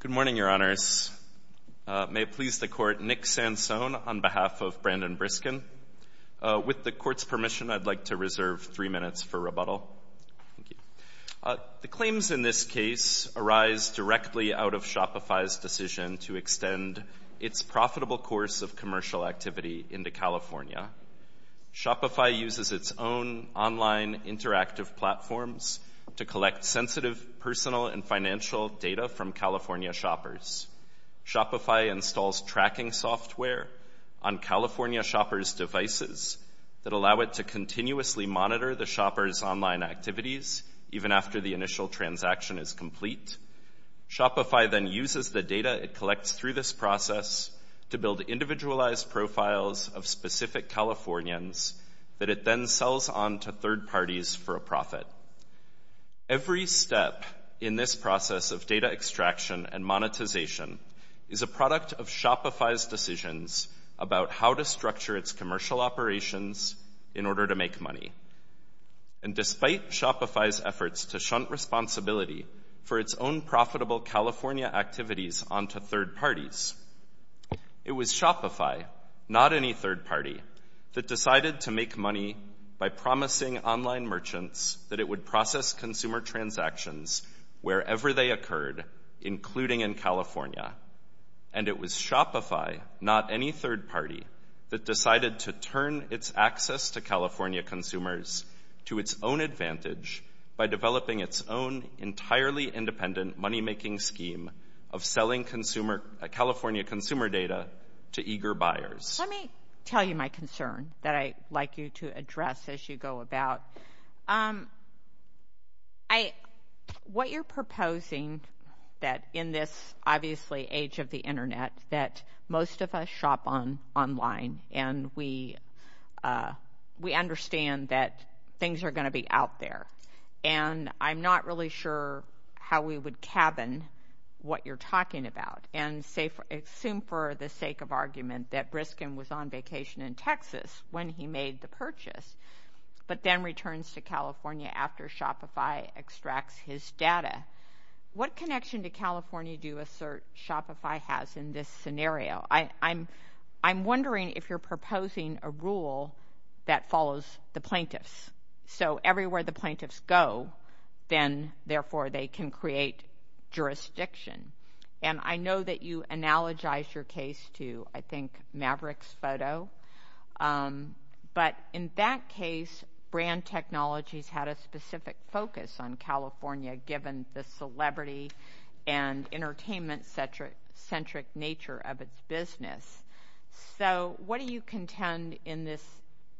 Good morning, Your Honors. May it please the Court, Nick Sansone on behalf of Brandon Briskin. With the Court's permission, I'd like to reserve three minutes for rebuttal. Thank you. The claims in this case arise directly out of Shopify's decision to extend its profitable course of commercial activity into California. Shopify uses its own online interactive platforms to collect sensitive personal and financial data from California shoppers. Shopify installs tracking software on California shoppers' devices that allow it to continuously monitor the shoppers' online activities, even after the initial transaction is complete. Shopify then uses the data it collects through this process to build individualized profiles of specific Californians that it then sells on to third parties for a profit. Every step in this process of data extraction and monetization is a product of Shopify's decisions about how to structure its commercial operations in order to make money. And despite Shopify's efforts to shunt responsibility for its own profitable California activities on to third parties, it was Shopify, not any third party, that decided to make money by promising online merchants that it would process consumer transactions wherever they occurred, including in California. And it was Shopify, not any third party, that decided to turn its access to California consumers to its own advantage by developing its own entirely independent moneymaking scheme of selling California consumer data to eager buyers. Let me tell you my concern that I'd like you to address as you go about. What you're proposing that in this, obviously, age of the internet, that most of us shop online and we understand that things are going to be out there. And I'm not really sure how we would cabin what you're talking about and assume for the sake of argument that Briskin was on vacation in Texas when he made the purchase, but then returns to California after Shopify extracts his data. What connection to California do you assert Shopify has in this scenario? I'm wondering if you're proposing a rule that follows the plaintiffs. So everywhere the plaintiffs go, then, therefore, they can create jurisdiction. And I know that you analogize your case to, I think, Maverick's photo. But in that case, brand technologies had a specific focus on California, given the celebrity and entertainment-centric nature of its business. So what do you contend in this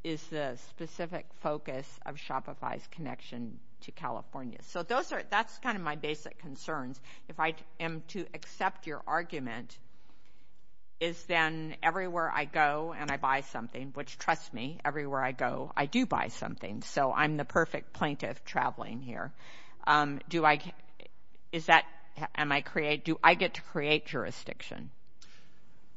is the specific focus of Shopify's connection to California? So that's kind of my basic concerns. If I am to accept your argument, is then everywhere I go and I buy something, which, trust me, everywhere I go, I do buy something. So I'm the perfect plaintiff traveling here. Do I get to create jurisdiction?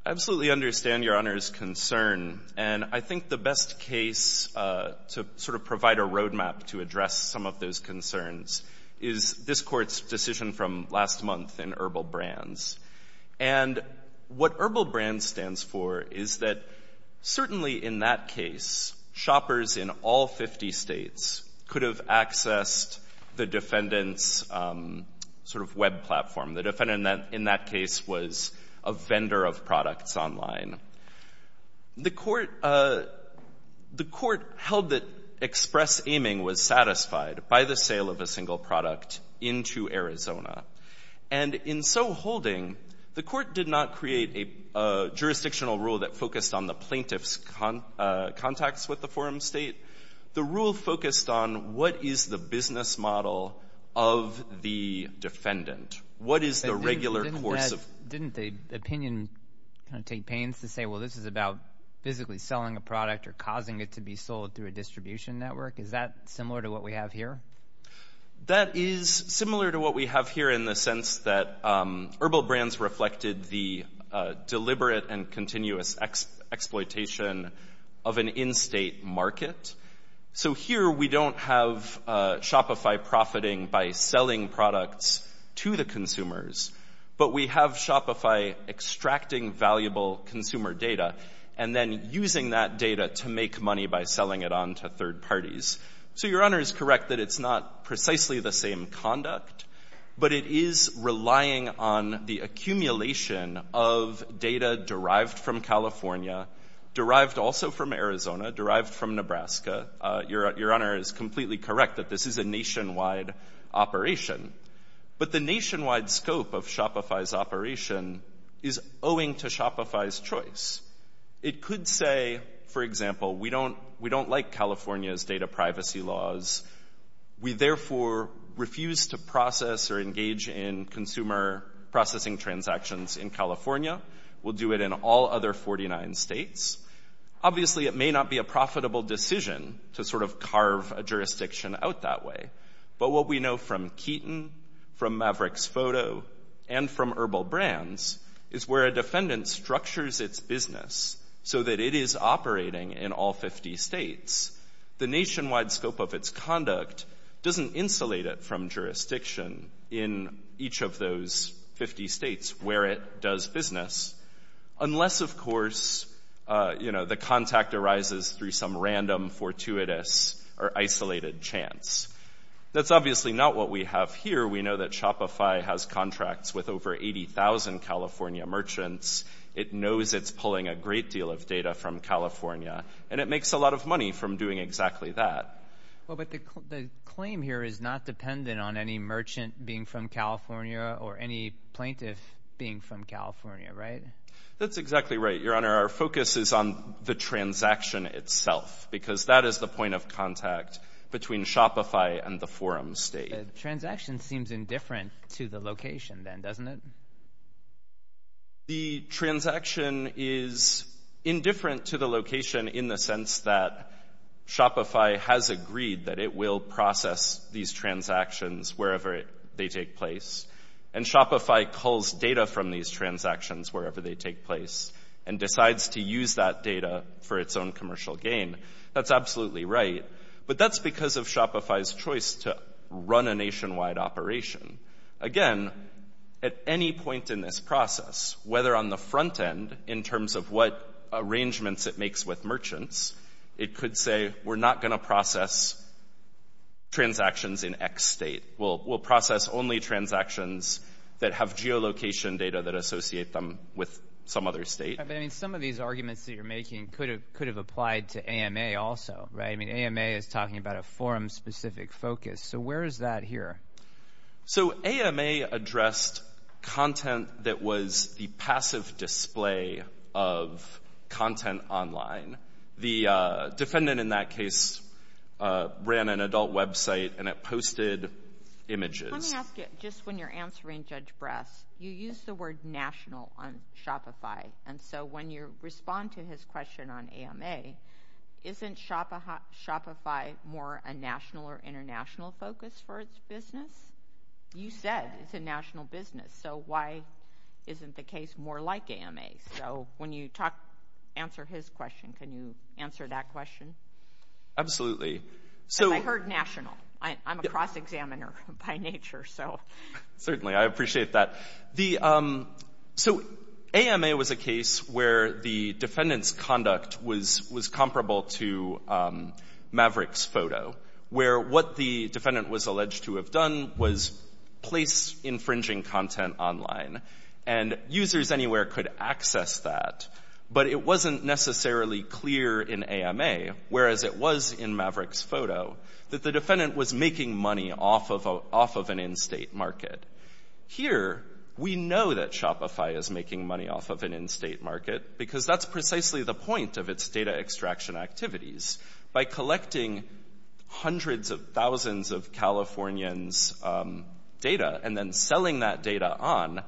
I absolutely understand Your Honor's concern. And I think the best case to sort of provide a roadmap to address some of those concerns is this court's decision from last month in Herbal Brands. And what Herbal Brands stands for is that certainly in that case, shoppers in all 50 states could have accessed the defendant's sort of web platform. The defendant in that case was a vendor of products online. The court held that express aiming was satisfied by the sale of a single product into Arizona. And in so holding, the court did not create a jurisdictional rule that focused on the plaintiff's contacts with the forum state. The rule focused on what is the business model of the defendant. Didn't the opinion kind of take pains to say, well, this is about physically selling a product or causing it to be sold through a distribution network? Is that similar to what we have here? That is similar to what we have here in the sense that Herbal Brands reflected the deliberate and continuous exploitation of an in-state market. So here we don't have Shopify profiting by selling products to the consumers. But we have Shopify extracting valuable consumer data and then using that data to make money by selling it on to third parties. So Your Honor is correct that it's not precisely the same conduct, but it is relying on the accumulation of data derived from California, derived also from Arizona, derived from Nebraska. Your Honor is completely correct that this is a nationwide operation. But the nationwide scope of Shopify's operation is owing to Shopify's choice. It could say, for example, we don't like California's data privacy laws. We therefore refuse to process or engage in consumer processing transactions in California. We'll do it in all other 49 states. Obviously, it may not be a profitable decision to sort of carve a jurisdiction out that way. But what we know from Keaton, from Maverick's photo, and from Herbal Brands is where a defendant structures its business so that it is operating in all 50 states. The nationwide scope of its conduct doesn't insulate it from jurisdiction in each of those 50 states where it does business. Unless, of course, the contact arises through some random, fortuitous, or isolated chance. That's obviously not what we have here. We know that Shopify has contracts with over 80,000 California merchants. It knows it's pulling a great deal of data from California, and it makes a lot of money from doing exactly that. But the claim here is not dependent on any merchant being from California or any plaintiff being from California, right? That's exactly right, Your Honor. Our focus is on the transaction itself because that is the point of contact between Shopify and the forum state. The transaction seems indifferent to the location then, doesn't it? The transaction is indifferent to the location in the sense that Shopify has agreed that it will process these transactions wherever they take place. And Shopify culls data from these transactions wherever they take place and decides to use that data for its own commercial gain. That's absolutely right, but that's because of Shopify's choice to run a nationwide operation. Again, at any point in this process, whether on the front end in terms of what arrangements it makes with merchants, it could say, we're not going to process transactions in X state. We'll process only transactions that have geolocation data that associate them with some other state. I mean, some of these arguments that you're making could have applied to AMA also, right? I mean, AMA is talking about a forum-specific focus. So where is that here? So AMA addressed content that was the passive display of content online. The defendant in that case ran an adult website and it posted images. Let me ask you, just when you're answering Judge Bress, you used the word national on Shopify. And so when you respond to his question on AMA, isn't Shopify more a national or international focus for its business? You said it's a national business. So why isn't the case more like AMA? So when you answer his question, can you answer that question? Absolutely. Because I heard national. I'm a cross-examiner by nature. Certainly, I appreciate that. So AMA was a case where the defendant's conduct was comparable to Maverick's photo, where what the defendant was alleged to have done was place infringing content online. And users anywhere could access that. But it wasn't necessarily clear in AMA, whereas it was in Maverick's photo, that the defendant was making money off of an in-state market. Here, we know that Shopify is making money off of an in-state market because that's precisely the point of its data extraction activities. By collecting hundreds of thousands of Californians' data and then selling that data on,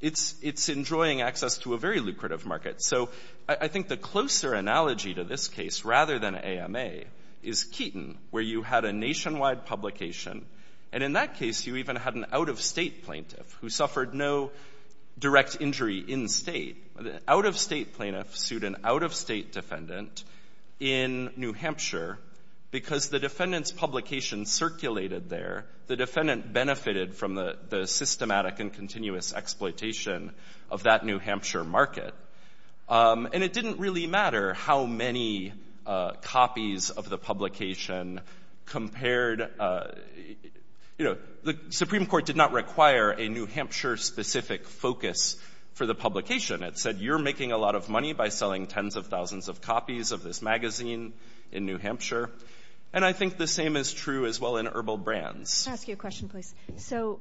it's enjoying access to a very lucrative market. So I think the closer analogy to this case, rather than AMA, is Keaton, where you had a nationwide publication. And in that case, you even had an out-of-state plaintiff who suffered no direct injury in-state. An out-of-state plaintiff sued an out-of-state defendant in New Hampshire because the defendant's publication circulated there. The defendant benefited from the systematic and continuous exploitation of that New Hampshire market. And it didn't really matter how many copies of the publication compared. The Supreme Court did not require a New Hampshire-specific focus for the publication. It said, you're making a lot of money by selling tens of thousands of copies of this magazine in New Hampshire. And I think the same is true, as well, in Herbal Brands. Let me ask you a question, please. So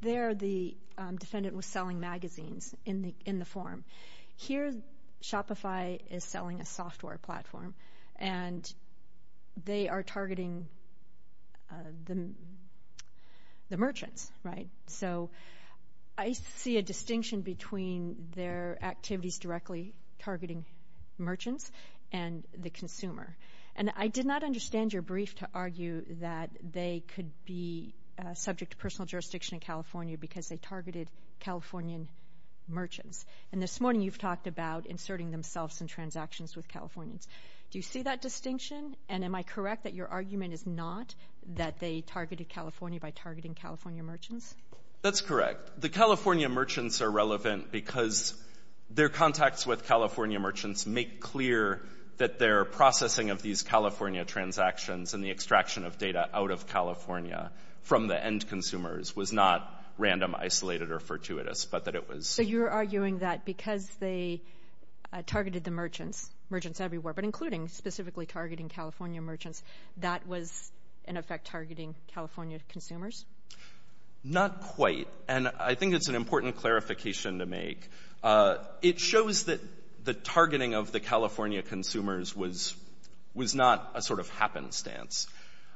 there, the defendant was selling magazines in the form. Here, Shopify is selling a software platform, and they are targeting the merchants, right? So I see a distinction between their activities directly targeting merchants and the consumer. And I did not understand your brief to argue that they could be subject to personal jurisdiction in California because they targeted Californian merchants. And this morning, you've talked about inserting themselves in transactions with Californians. Do you see that distinction? And am I correct that your argument is not that they targeted California by targeting California merchants? That's correct. The California merchants are relevant because their contacts with California merchants make clear that their processing of these California transactions and the extraction of data out of California from the end consumers was not random, isolated, or fortuitous, but that it was. So you're arguing that because they targeted the merchants, merchants everywhere, but including specifically targeting California merchants, that was, in effect, targeting California consumers? Not quite. And I think it's an important clarification to make. It shows that the targeting of the California consumers was not a sort of happenstance.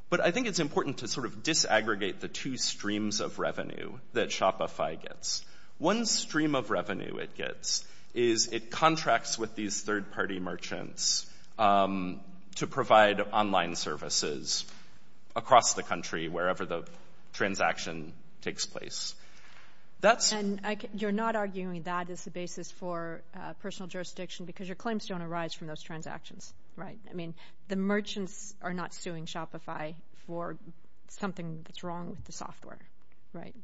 But I think it's important to sort of disaggregate the two streams of revenue that Shopify gets. One stream of revenue it gets is it contracts with these third-party merchants to provide online services across the country, wherever the transaction takes place. And you're not arguing that is the basis for personal jurisdiction because your claims don't arise from those transactions, right? I mean, the merchants are not suing Shopify for something that's wrong with the software, right?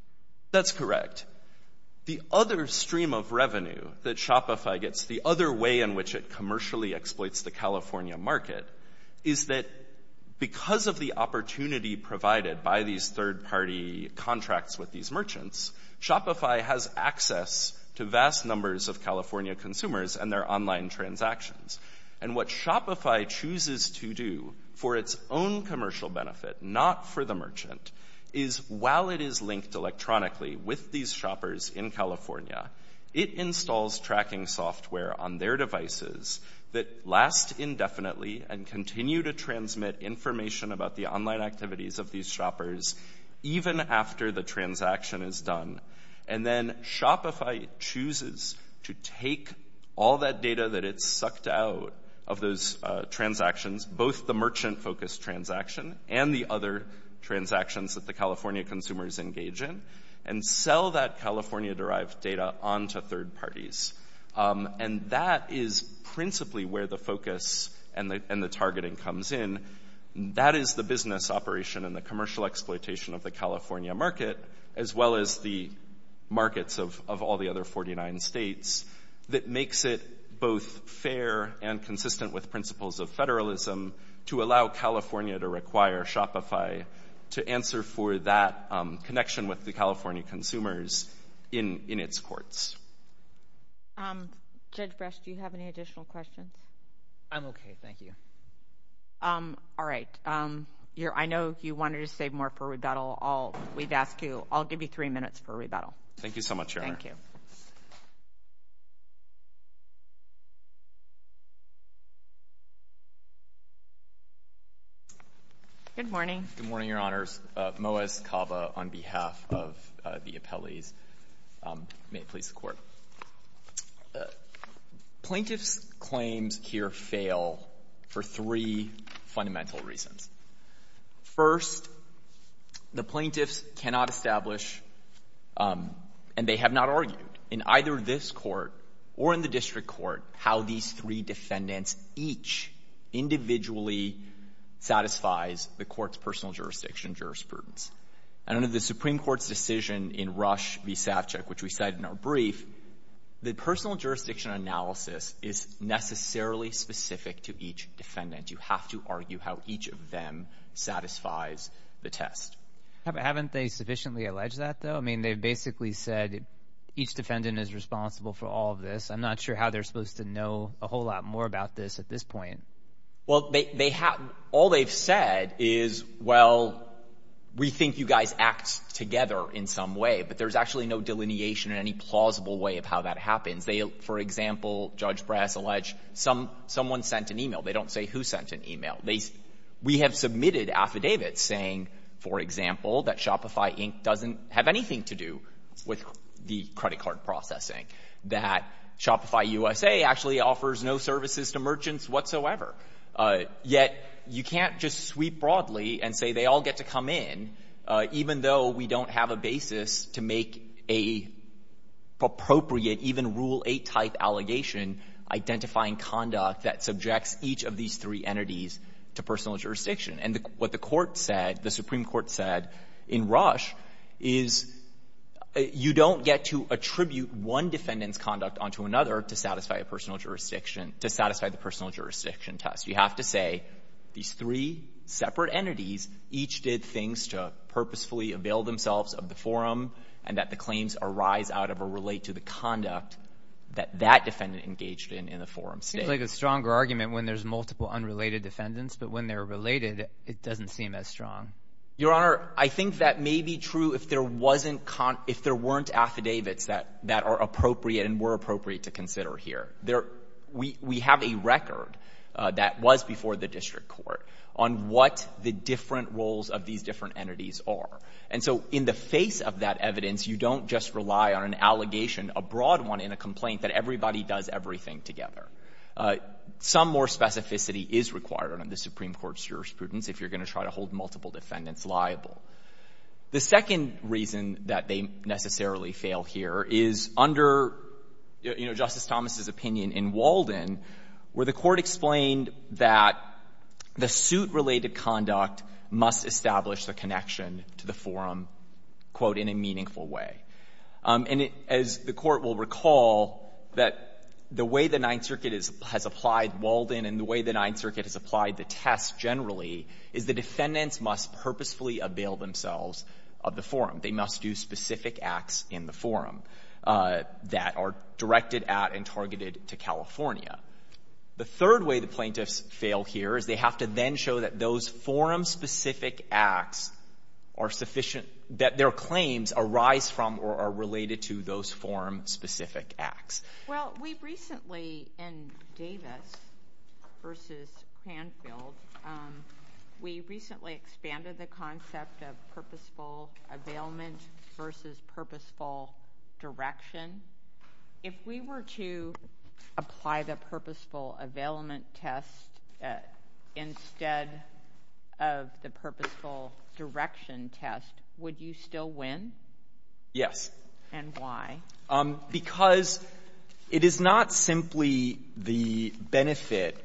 That's correct. The other stream of revenue that Shopify gets, the other way in which it commercially exploits the California market, is that because of the opportunity provided by these third-party contracts with these merchants, Shopify has access to vast numbers of California consumers and their online transactions. And what Shopify chooses to do for its own commercial benefit, not for the merchant, is while it is linked electronically with these shoppers in California, it installs tracking software on their devices that last indefinitely and continue to transmit information about the online activities of these shoppers, even after the transaction is done. And then Shopify chooses to take all that data that it's sucked out of those transactions, both the merchant-focused transaction and the other transactions that the California consumers engage in, and sell that California-derived data onto third parties. And that is principally where the focus and the targeting comes in. That is the business operation and the commercial exploitation of the California market, as well as the markets of all the other 49 states, that makes it both fair and consistent with principles of federalism to allow California to require Shopify to answer for that connection with the California consumers in its courts. Judge Bresch, do you have any additional questions? I'm okay. Thank you. All right. I know you wanted to save more for rebuttal. I'll give you three minutes for rebuttal. Thank you so much, Your Honor. Thank you. Good morning. Good morning, Your Honors. Moaz Kava on behalf of the appellees. May it please the Court. Plaintiffs' claims here fail for three fundamental reasons. First, the plaintiffs cannot establish, and they have not argued, in either this Court or in the district court, how these three defendants each individually satisfies the court's personal jurisdiction jurisprudence. And under the Supreme Court's decision in Rush v. Savchuk, which we cited in our brief, the personal jurisdiction analysis is necessarily specific to each defendant. You have to argue how each of them satisfies the test. Haven't they sufficiently alleged that, though? I mean, they've basically said each defendant is responsible for all of this. I'm not sure how they're supposed to know a whole lot more about this at this point. Well, all they've said is, well, we think you guys act together in some way, but there's actually no delineation in any plausible way of how that happens. For example, Judge Brass alleged someone sent an email. They don't say who sent an email. We have submitted affidavits saying, for example, that Shopify Inc. doesn't have anything to do with the credit card processing, that Shopify USA actually offers no services to merchants whatsoever. Yet you can't just sweep broadly and say they all get to come in, even though we don't have a basis to make an appropriate, even Rule 8-type allegation, identifying conduct that subjects each of these three entities to personal jurisdiction. And what the court said, the Supreme Court said in Rush, is you don't get to attribute one defendant's conduct onto another to satisfy the personal jurisdiction test. You have to say these three separate entities each did things to purposefully avail themselves of the forum and that the claims arise out of or relate to the conduct that that defendant engaged in in the forum state. It seems like a stronger argument when there's multiple unrelated defendants, but when they're related, it doesn't seem as strong. Your Honor, I think that may be true if there weren't affidavits that are appropriate and were appropriate to consider here. We have a record that was before the district court on what the different roles of these different entities are. And so in the face of that evidence, you don't just rely on an allegation, a broad one in a complaint, that everybody does everything together. Some more specificity is required under the Supreme Court's jurisprudence if you're going to try to hold multiple defendants liable. The second reason that they necessarily fail here is under, you know, Justice Thomas's opinion in Walden, where the court explained that the suit-related conduct must establish the connection to the forum, quote, in a meaningful way. And as the Court will recall, that the way the Ninth Circuit has applied Walden and the way the Ninth Circuit has applied the test generally is the defendants must purposefully avail themselves of the forum. They must do specific acts in the forum that are directed at and targeted to California. The third way the plaintiffs fail here is they have to then show that those forum-specific acts are sufficient, that their claims arise from or are related to those forum-specific acts. Well, we recently in Davis versus Cranfield, we recently expanded the concept of purposeful availment versus purposeful direction. If we were to apply the purposeful availment test instead of the purposeful direction test, would you still win? Yes. And why? Because it is not simply the benefit,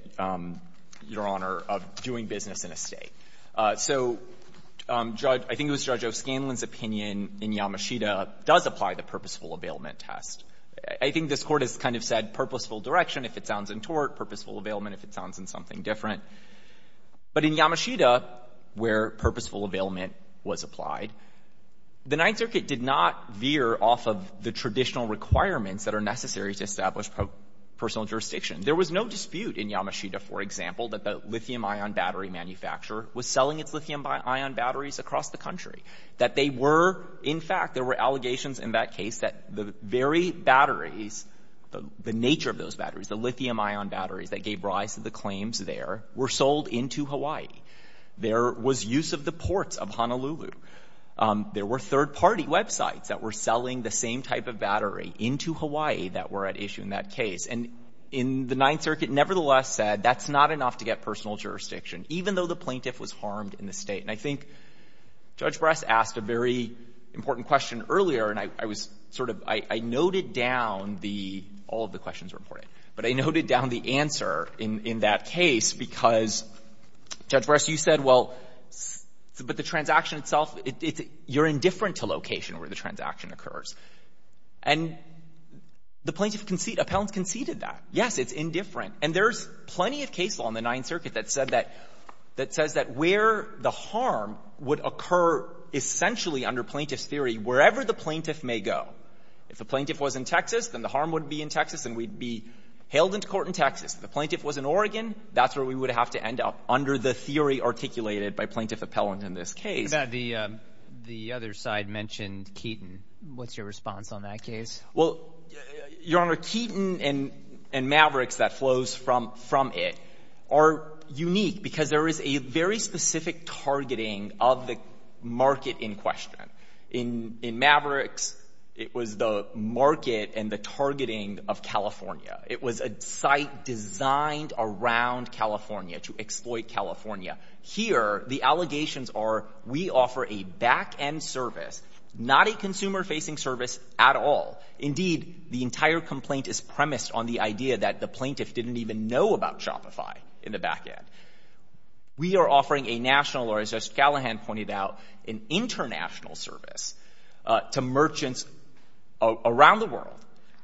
Your Honor, of doing business in a State. So Judge — I think it was Judge O'Scanlan's opinion in Yamashita does apply the purposeful availment test. I think this Court has kind of said purposeful direction if it sounds in tort, purposeful availment if it sounds in something different. But in Yamashita, where purposeful availment was applied, the Ninth Circuit did not veer off of the traditional requirements that are necessary to establish personal jurisdiction. There was no dispute in Yamashita, for example, that the lithium-ion battery manufacturer was selling its lithium-ion batteries across the country. That they were — in fact, there were allegations in that case that the very batteries, the nature of those batteries, the lithium-ion batteries that gave rise to the claims there, were sold into Hawaii. There was use of the ports of Honolulu. There were third-party websites that were selling the same type of battery into Hawaii that were at issue in that case. And in the Ninth Circuit, nevertheless, said that's not enough to get personal jurisdiction, even though the plaintiff was harmed in the State. And I think Judge Brass asked a very important question earlier, and I was sort of — I noted down the — all of the questions were important, but I noted down the answer in that case because, Judge Brass, you said, well, but the transaction itself, it's — you're indifferent to location where the transaction occurs. And the plaintiff conceded — appellants conceded that. Yes, it's indifferent. And there's plenty of case law in the Ninth Circuit that said that — that says that where the harm would occur essentially under plaintiff's theory, wherever the plaintiff may go. If the plaintiff was in Texas, then the harm would be in Texas and we'd be hailed into court in Texas. If the plaintiff was in Oregon, that's where we would have to end up, under the theory articulated by plaintiff appellant in this case. The other side mentioned Keaton. What's your response on that case? Well, Your Honor, Keaton and Mavericks that flows from it are unique because there is a very specific targeting of the market in question. In Mavericks, it was the market and the targeting of California. It was a site designed around California to exploit California. Here, the allegations are we offer a back-end service, not a consumer-facing service at all. Indeed, the entire complaint is premised on the idea that the plaintiff didn't even know about Shopify in the back end. We are offering a national or, as Justice Callahan pointed out, an international service to merchants around the world.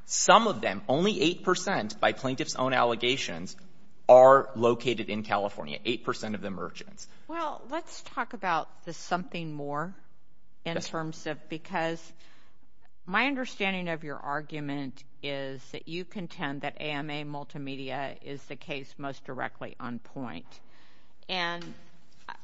Some of them, only 8% by plaintiff's own allegations are located in California, 8% of the merchants. Well, let's talk about the something more in terms of because my understanding of your argument is that you contend that AMA Multimedia is the case most directly on point. And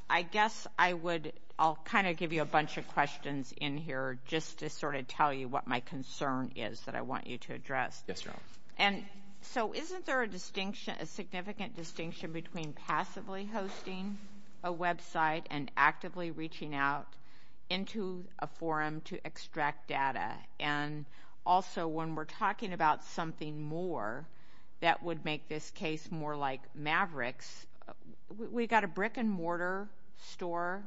I guess I would, I'll kind of give you a bunch of questions in here just to sort of tell you what my concern is that I want you to address. Yes, Your Honor. And so isn't there a distinction, a significant distinction between passively hosting a website and actively reaching out into a forum to extract data? And also, when we're talking about something more that would make this case more like Mavericks, we got a brick-and-mortar store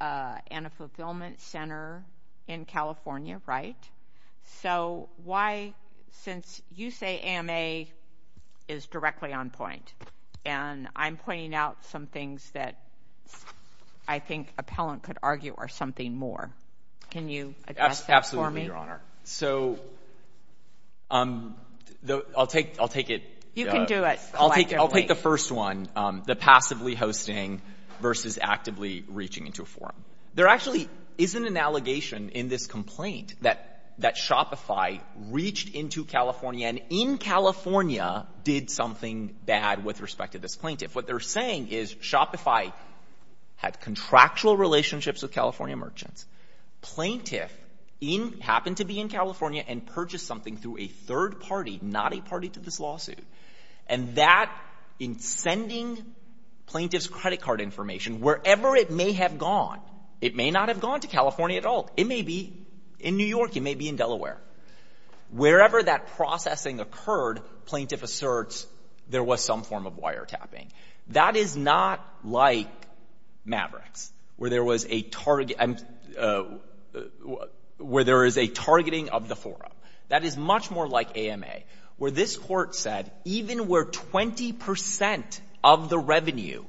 and a fulfillment center in California. Since you say AMA is directly on point, and I'm pointing out some things that I think appellant could argue are something more, can you address that for me? Absolutely, Your Honor. So I'll take it. You can do it. I'll take the first one, the passively hosting versus actively reaching into a forum. There actually isn't an allegation in this complaint that Shopify reached into California and in California did something bad with respect to this plaintiff. What they're saying is Shopify had contractual relationships with California merchants. Plaintiff happened to be in California and purchased something through a third party, not a party to this lawsuit. And that, in sending plaintiff's credit card information, wherever it may have gone, it may not have gone to California at all. It may be in New York. It may be in New York. And wherever that processing occurred, plaintiff asserts there was some form of wiretapping. That is not like Mavericks, where there is a targeting of the forum. That is much more like AMA, where this court said even where 20% of the revenue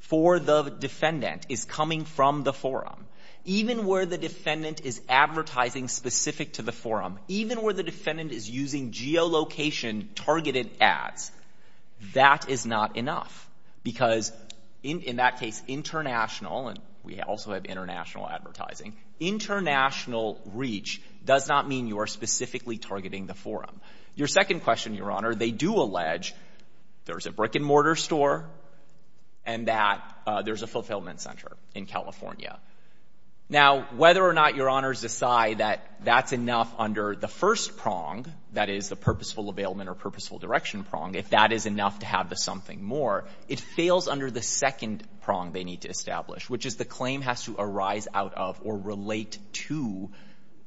for the defendant is coming from the forum, even where the defendant is advertising specific to the forum, even where the defendant is using geolocation targeted ads, that is not enough. Because in that case, international, and we also have international advertising, international reach does not mean you are specifically targeting the forum. Your second question, Your Honor, they do allege there's a brick and mortar store and that there's a fulfillment center in California. Now, whether or not Your Honors decide that that's enough under the first prong, that is the purposeful availment or purposeful direction prong, if that is enough to have the something more, it fails under the second prong they need to establish, which is the claim has to arise out of or relate to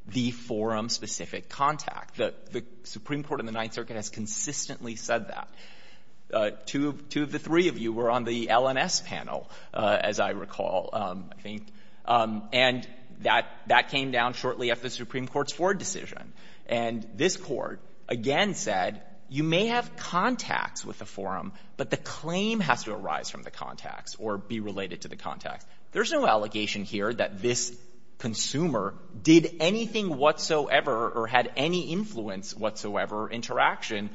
the forum-specific contact. The Supreme Court in the Ninth Circuit has consistently said that. Two of the three of you were on the LNS panel, as I recall, I think. And that came down shortly after the Supreme Court's Ford decision. And this court again said you may have contacts with the forum, but the claim has to arise from the contacts or be related to the contacts. There's no allegation here that this consumer did anything whatsoever or had any influence whatsoever interaction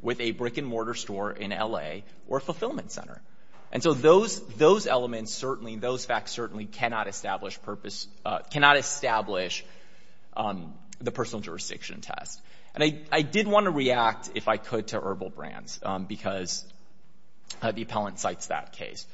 with a brick-and-mortar store in L.A. or a fulfillment center. And so those elements certainly, those facts certainly cannot establish purpose — cannot establish the personal jurisdiction test. And I did want to react, if I could, to herbal brands because the appellant cites that case.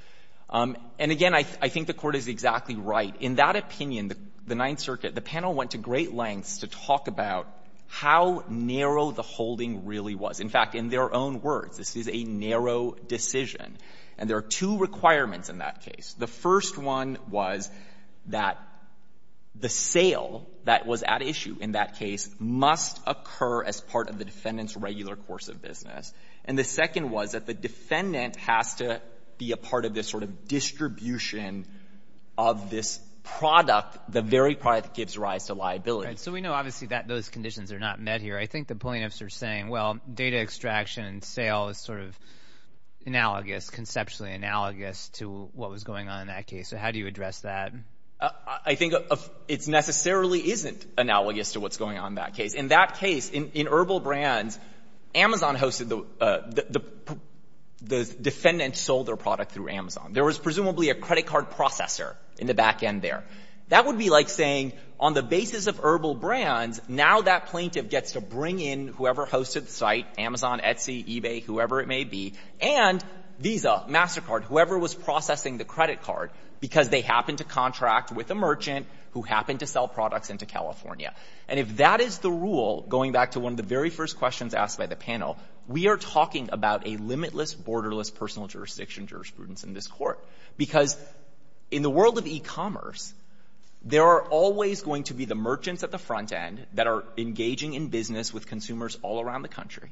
And again, I think the Court is exactly right. In that opinion, the Ninth Circuit, the panel went to great lengths to talk about how narrow the holding really was. In fact, in their own words, this is a narrow decision. And there are two requirements in that case. The first one was that the sale that was at issue in that case must occur as part of the defendant's regular course of business. And the second was that the defendant has to be a part of this sort of distribution of this product, the very product that gives rise to liability. Right. So we know, obviously, that those conditions are not met here. I think the plaintiffs are saying, well, data extraction and sale is sort of analogous, conceptually analogous, to what was going on in that case. So how do you address that? I think it necessarily isn't analogous to what's going on in that case. In that case, in herbal brands, Amazon hosted the — the defendant sold their product through Amazon. There was presumably a credit card processor in the back end there. That would be like saying, on the basis of herbal brands, now that plaintiff gets to bring in whoever hosted the site, Amazon, Etsy, eBay, whoever it may be, and Visa, MasterCard, whoever was processing the credit card, because they happened to contract with a merchant who happened to sell products into California. And if that is the rule, going back to one of the very first questions asked by the panel, we are talking about a limitless, borderless, personal jurisdiction jurisprudence in this court. Because in the world of e-commerce, there are always going to be the merchants at the front end that are engaging in business with consumers all around the country,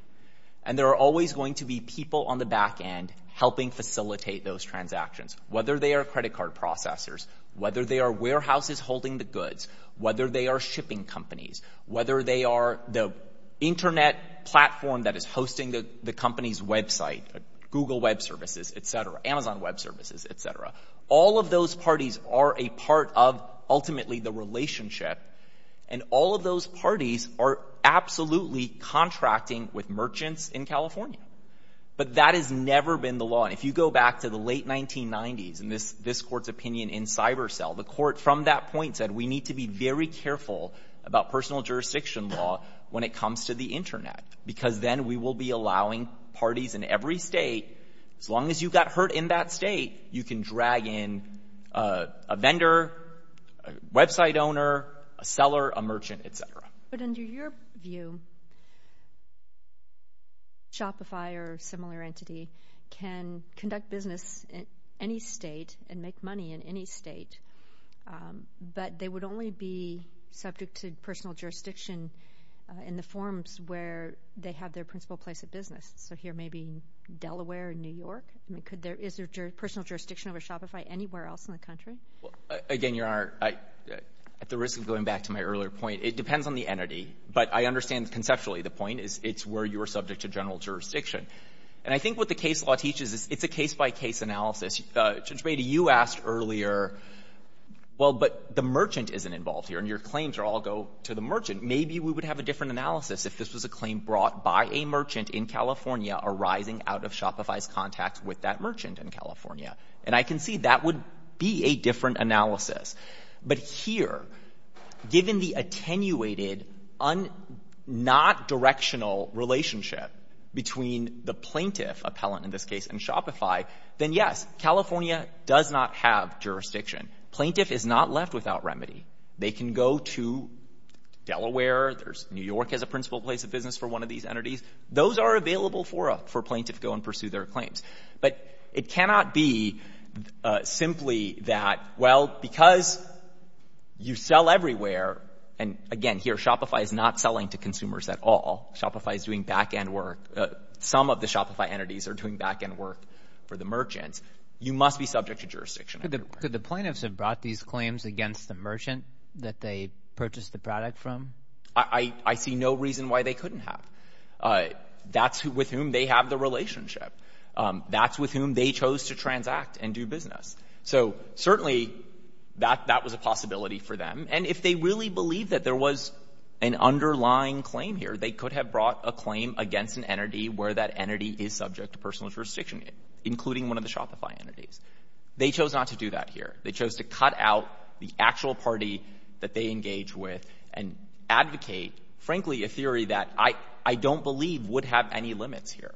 and there are always going to be people on the back end helping facilitate those transactions, whether they are credit card processors, whether they are warehouses holding the goods, whether they are shipping companies, whether they are the Internet platform that is hosting the company's website, Google Web Services, et cetera, Amazon Web Services, et cetera. All of those parties are a part of, ultimately, the relationship, and all of those parties are absolutely contracting with merchants in California. But that has never been the law. And if you go back to the late 1990s, and this court's opinion in CyberCell, the court from that point said, we need to be very careful about personal jurisdiction law when it comes to the Internet, because then we will be allowing parties in every state, as long as you got hurt in that state, you can drag in a vendor, a website owner, a seller, a merchant, et cetera. But under your view, Shopify or a similar entity can conduct business in any state and make money in any state, but they would only be subject to personal jurisdiction in the forms where they have their principal place of business. So here, maybe Delaware or New York? I mean, is there personal jurisdiction over Shopify anywhere else in the country? Again, Your Honor, at the risk of going back to my earlier point, it depends on the entity, but I understand conceptually the point is it's where you're subject to general jurisdiction. And I think what the case law teaches is it's a case-by-case analysis. Judge Batey, you asked earlier, well, but the merchant isn't involved here, and your claims all go to the merchant. Maybe we would have a different analysis if this was a claim brought by a merchant in California arising out of Shopify's contact with that merchant in California. And I can see that would be a different analysis. But here, given the attenuated, not directional relationship between the plaintiff, appellant in this case, and Shopify, then yes, California does not have jurisdiction. Plaintiff is not left without remedy. They can go to Delaware. New York has a principal place of business for one of these entities. Those are available for a plaintiff to go and pursue their claims. But it cannot be simply that, well, because you sell everywhere, and again, here Shopify is not selling to consumers at all. Shopify is doing back-end work. Some of the Shopify entities are doing back-end work for the merchants. You must be subject to jurisdiction. Could the plaintiffs have brought these claims against the merchant that they purchased the product from? I see no reason why they couldn't have. That's with whom they have the relationship. That's with whom they chose to transact and do business. So certainly that was a possibility for them. And if they really believed that there was an underlying claim here, they could have brought a claim against an entity where that entity is subject to personal jurisdiction, including one of the Shopify entities. They chose not to do that here. They chose to cut out the actual party that they engage with and advocate, frankly, a theory that I don't believe would have any limits here.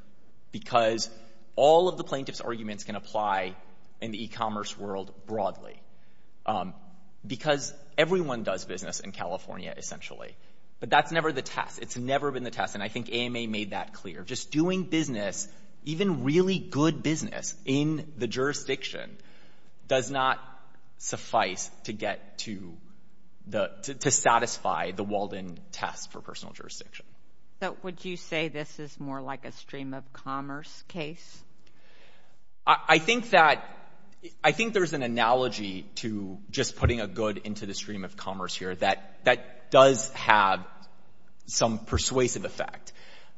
Because all of the plaintiff's arguments can apply in the e-commerce world broadly. Because everyone does business in California, essentially. But that's never the test. It's never been the test. And I think AMA made that clear. Just doing business, even really good business, in the jurisdiction does not suffice to satisfy the Walden test for personal jurisdiction. So would you say this is more like a stream-of-commerce case? I think there's an analogy to just putting a good into the stream-of-commerce here that does have some persuasive effect.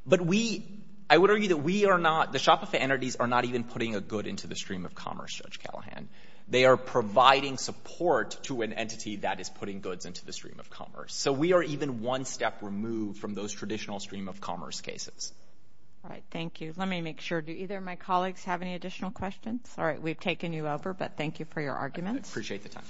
But we—I would argue that we are not— the Shopify entities are not even putting a good into the stream-of-commerce, Judge Callahan. They are providing support to an entity that is putting goods into the stream-of-commerce. So we are even one step removed from those traditional stream-of-commerce cases. All right. Thank you. Let me make sure. Do either of my colleagues have any additional questions? All right. We've taken you over, but thank you for your arguments. I appreciate the time.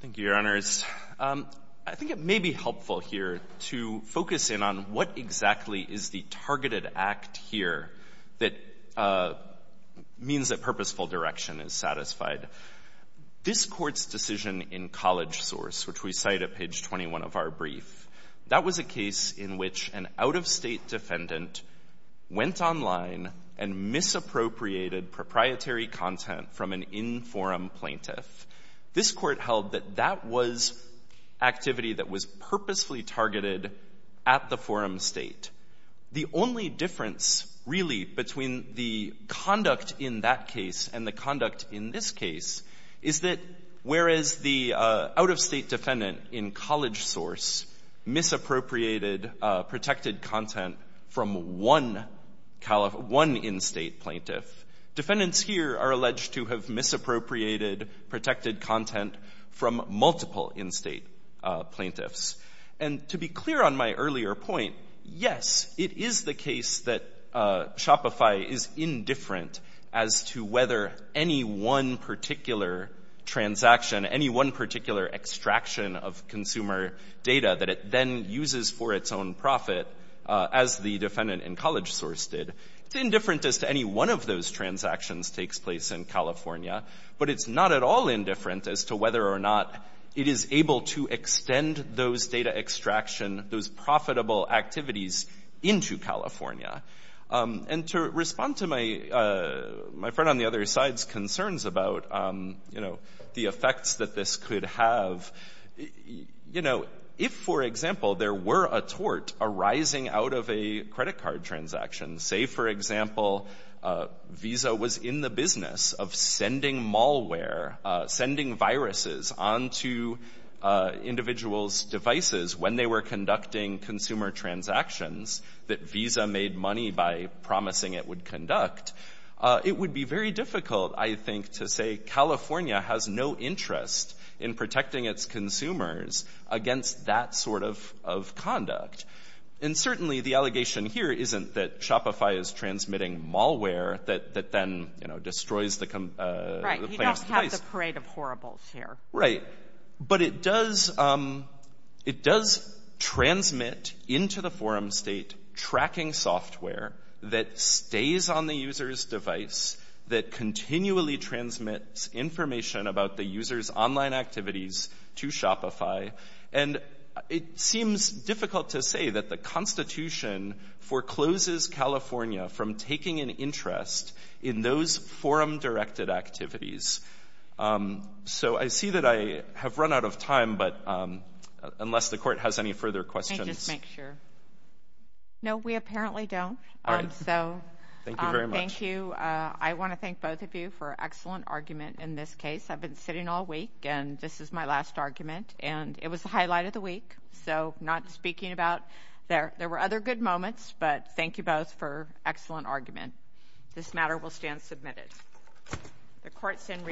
Thank you, Your Honors. I think it may be helpful here to focus in on what exactly is the targeted act here that means that purposeful direction is satisfied. This Court's decision in College Source, which we cite at page 21 of our brief, that was a case in which an out-of-state defendant went online and misappropriated proprietary content from an in-forum plaintiff. This Court held that that was activity that was purposefully targeted at the forum state. The only difference really between the conduct in that case and the conduct in this case is that whereas the out-of-state defendant in College Source misappropriated protected content from one in-state plaintiff, defendants here are alleged to have misappropriated protected content from multiple in-state plaintiffs. And to be clear on my earlier point, yes, it is the case that Shopify is indifferent as to whether any one particular transaction, any one particular extraction of consumer data that it then uses for its own profit, as the defendant in College Source did. It's indifferent as to any one of those transactions takes place in California, but it's not at all indifferent as to whether or not it is able to extend those data extraction, those profitable activities into California. And to respond to my friend on the other side's concerns about, you know, the effects that this could have, you know, if, for example, there were a tort arising out of a credit card transaction, say, for example, Visa was in the business of sending malware, sending viruses onto individuals' devices when they were conducting consumer transactions that Visa made money by promising it would conduct, it would be very difficult, I think, to say California has no interest in protecting its consumers against that sort of conduct. And certainly the allegation here isn't that Shopify is transmitting malware that then, you know, destroys the plan's place. Right. You don't have the parade of horribles here. Right. But it does transmit into the forum state tracking software that stays on the user's device, that continually transmits information about the user's online activities to Shopify, and it seems difficult to say that the Constitution forecloses California from taking an interest in those forum-directed activities. So I see that I have run out of time, but unless the Court has any further questions. Let me just make sure. No, we apparently don't. All right. Thank you very much. Thank you. I want to thank both of you for an excellent argument in this case. I've been sitting all week, and this is my last argument. And it was the highlight of the week, so not speaking about there. There were other good moments, but thank you both for an excellent argument. This matter will stand submitted. The Court's in recess.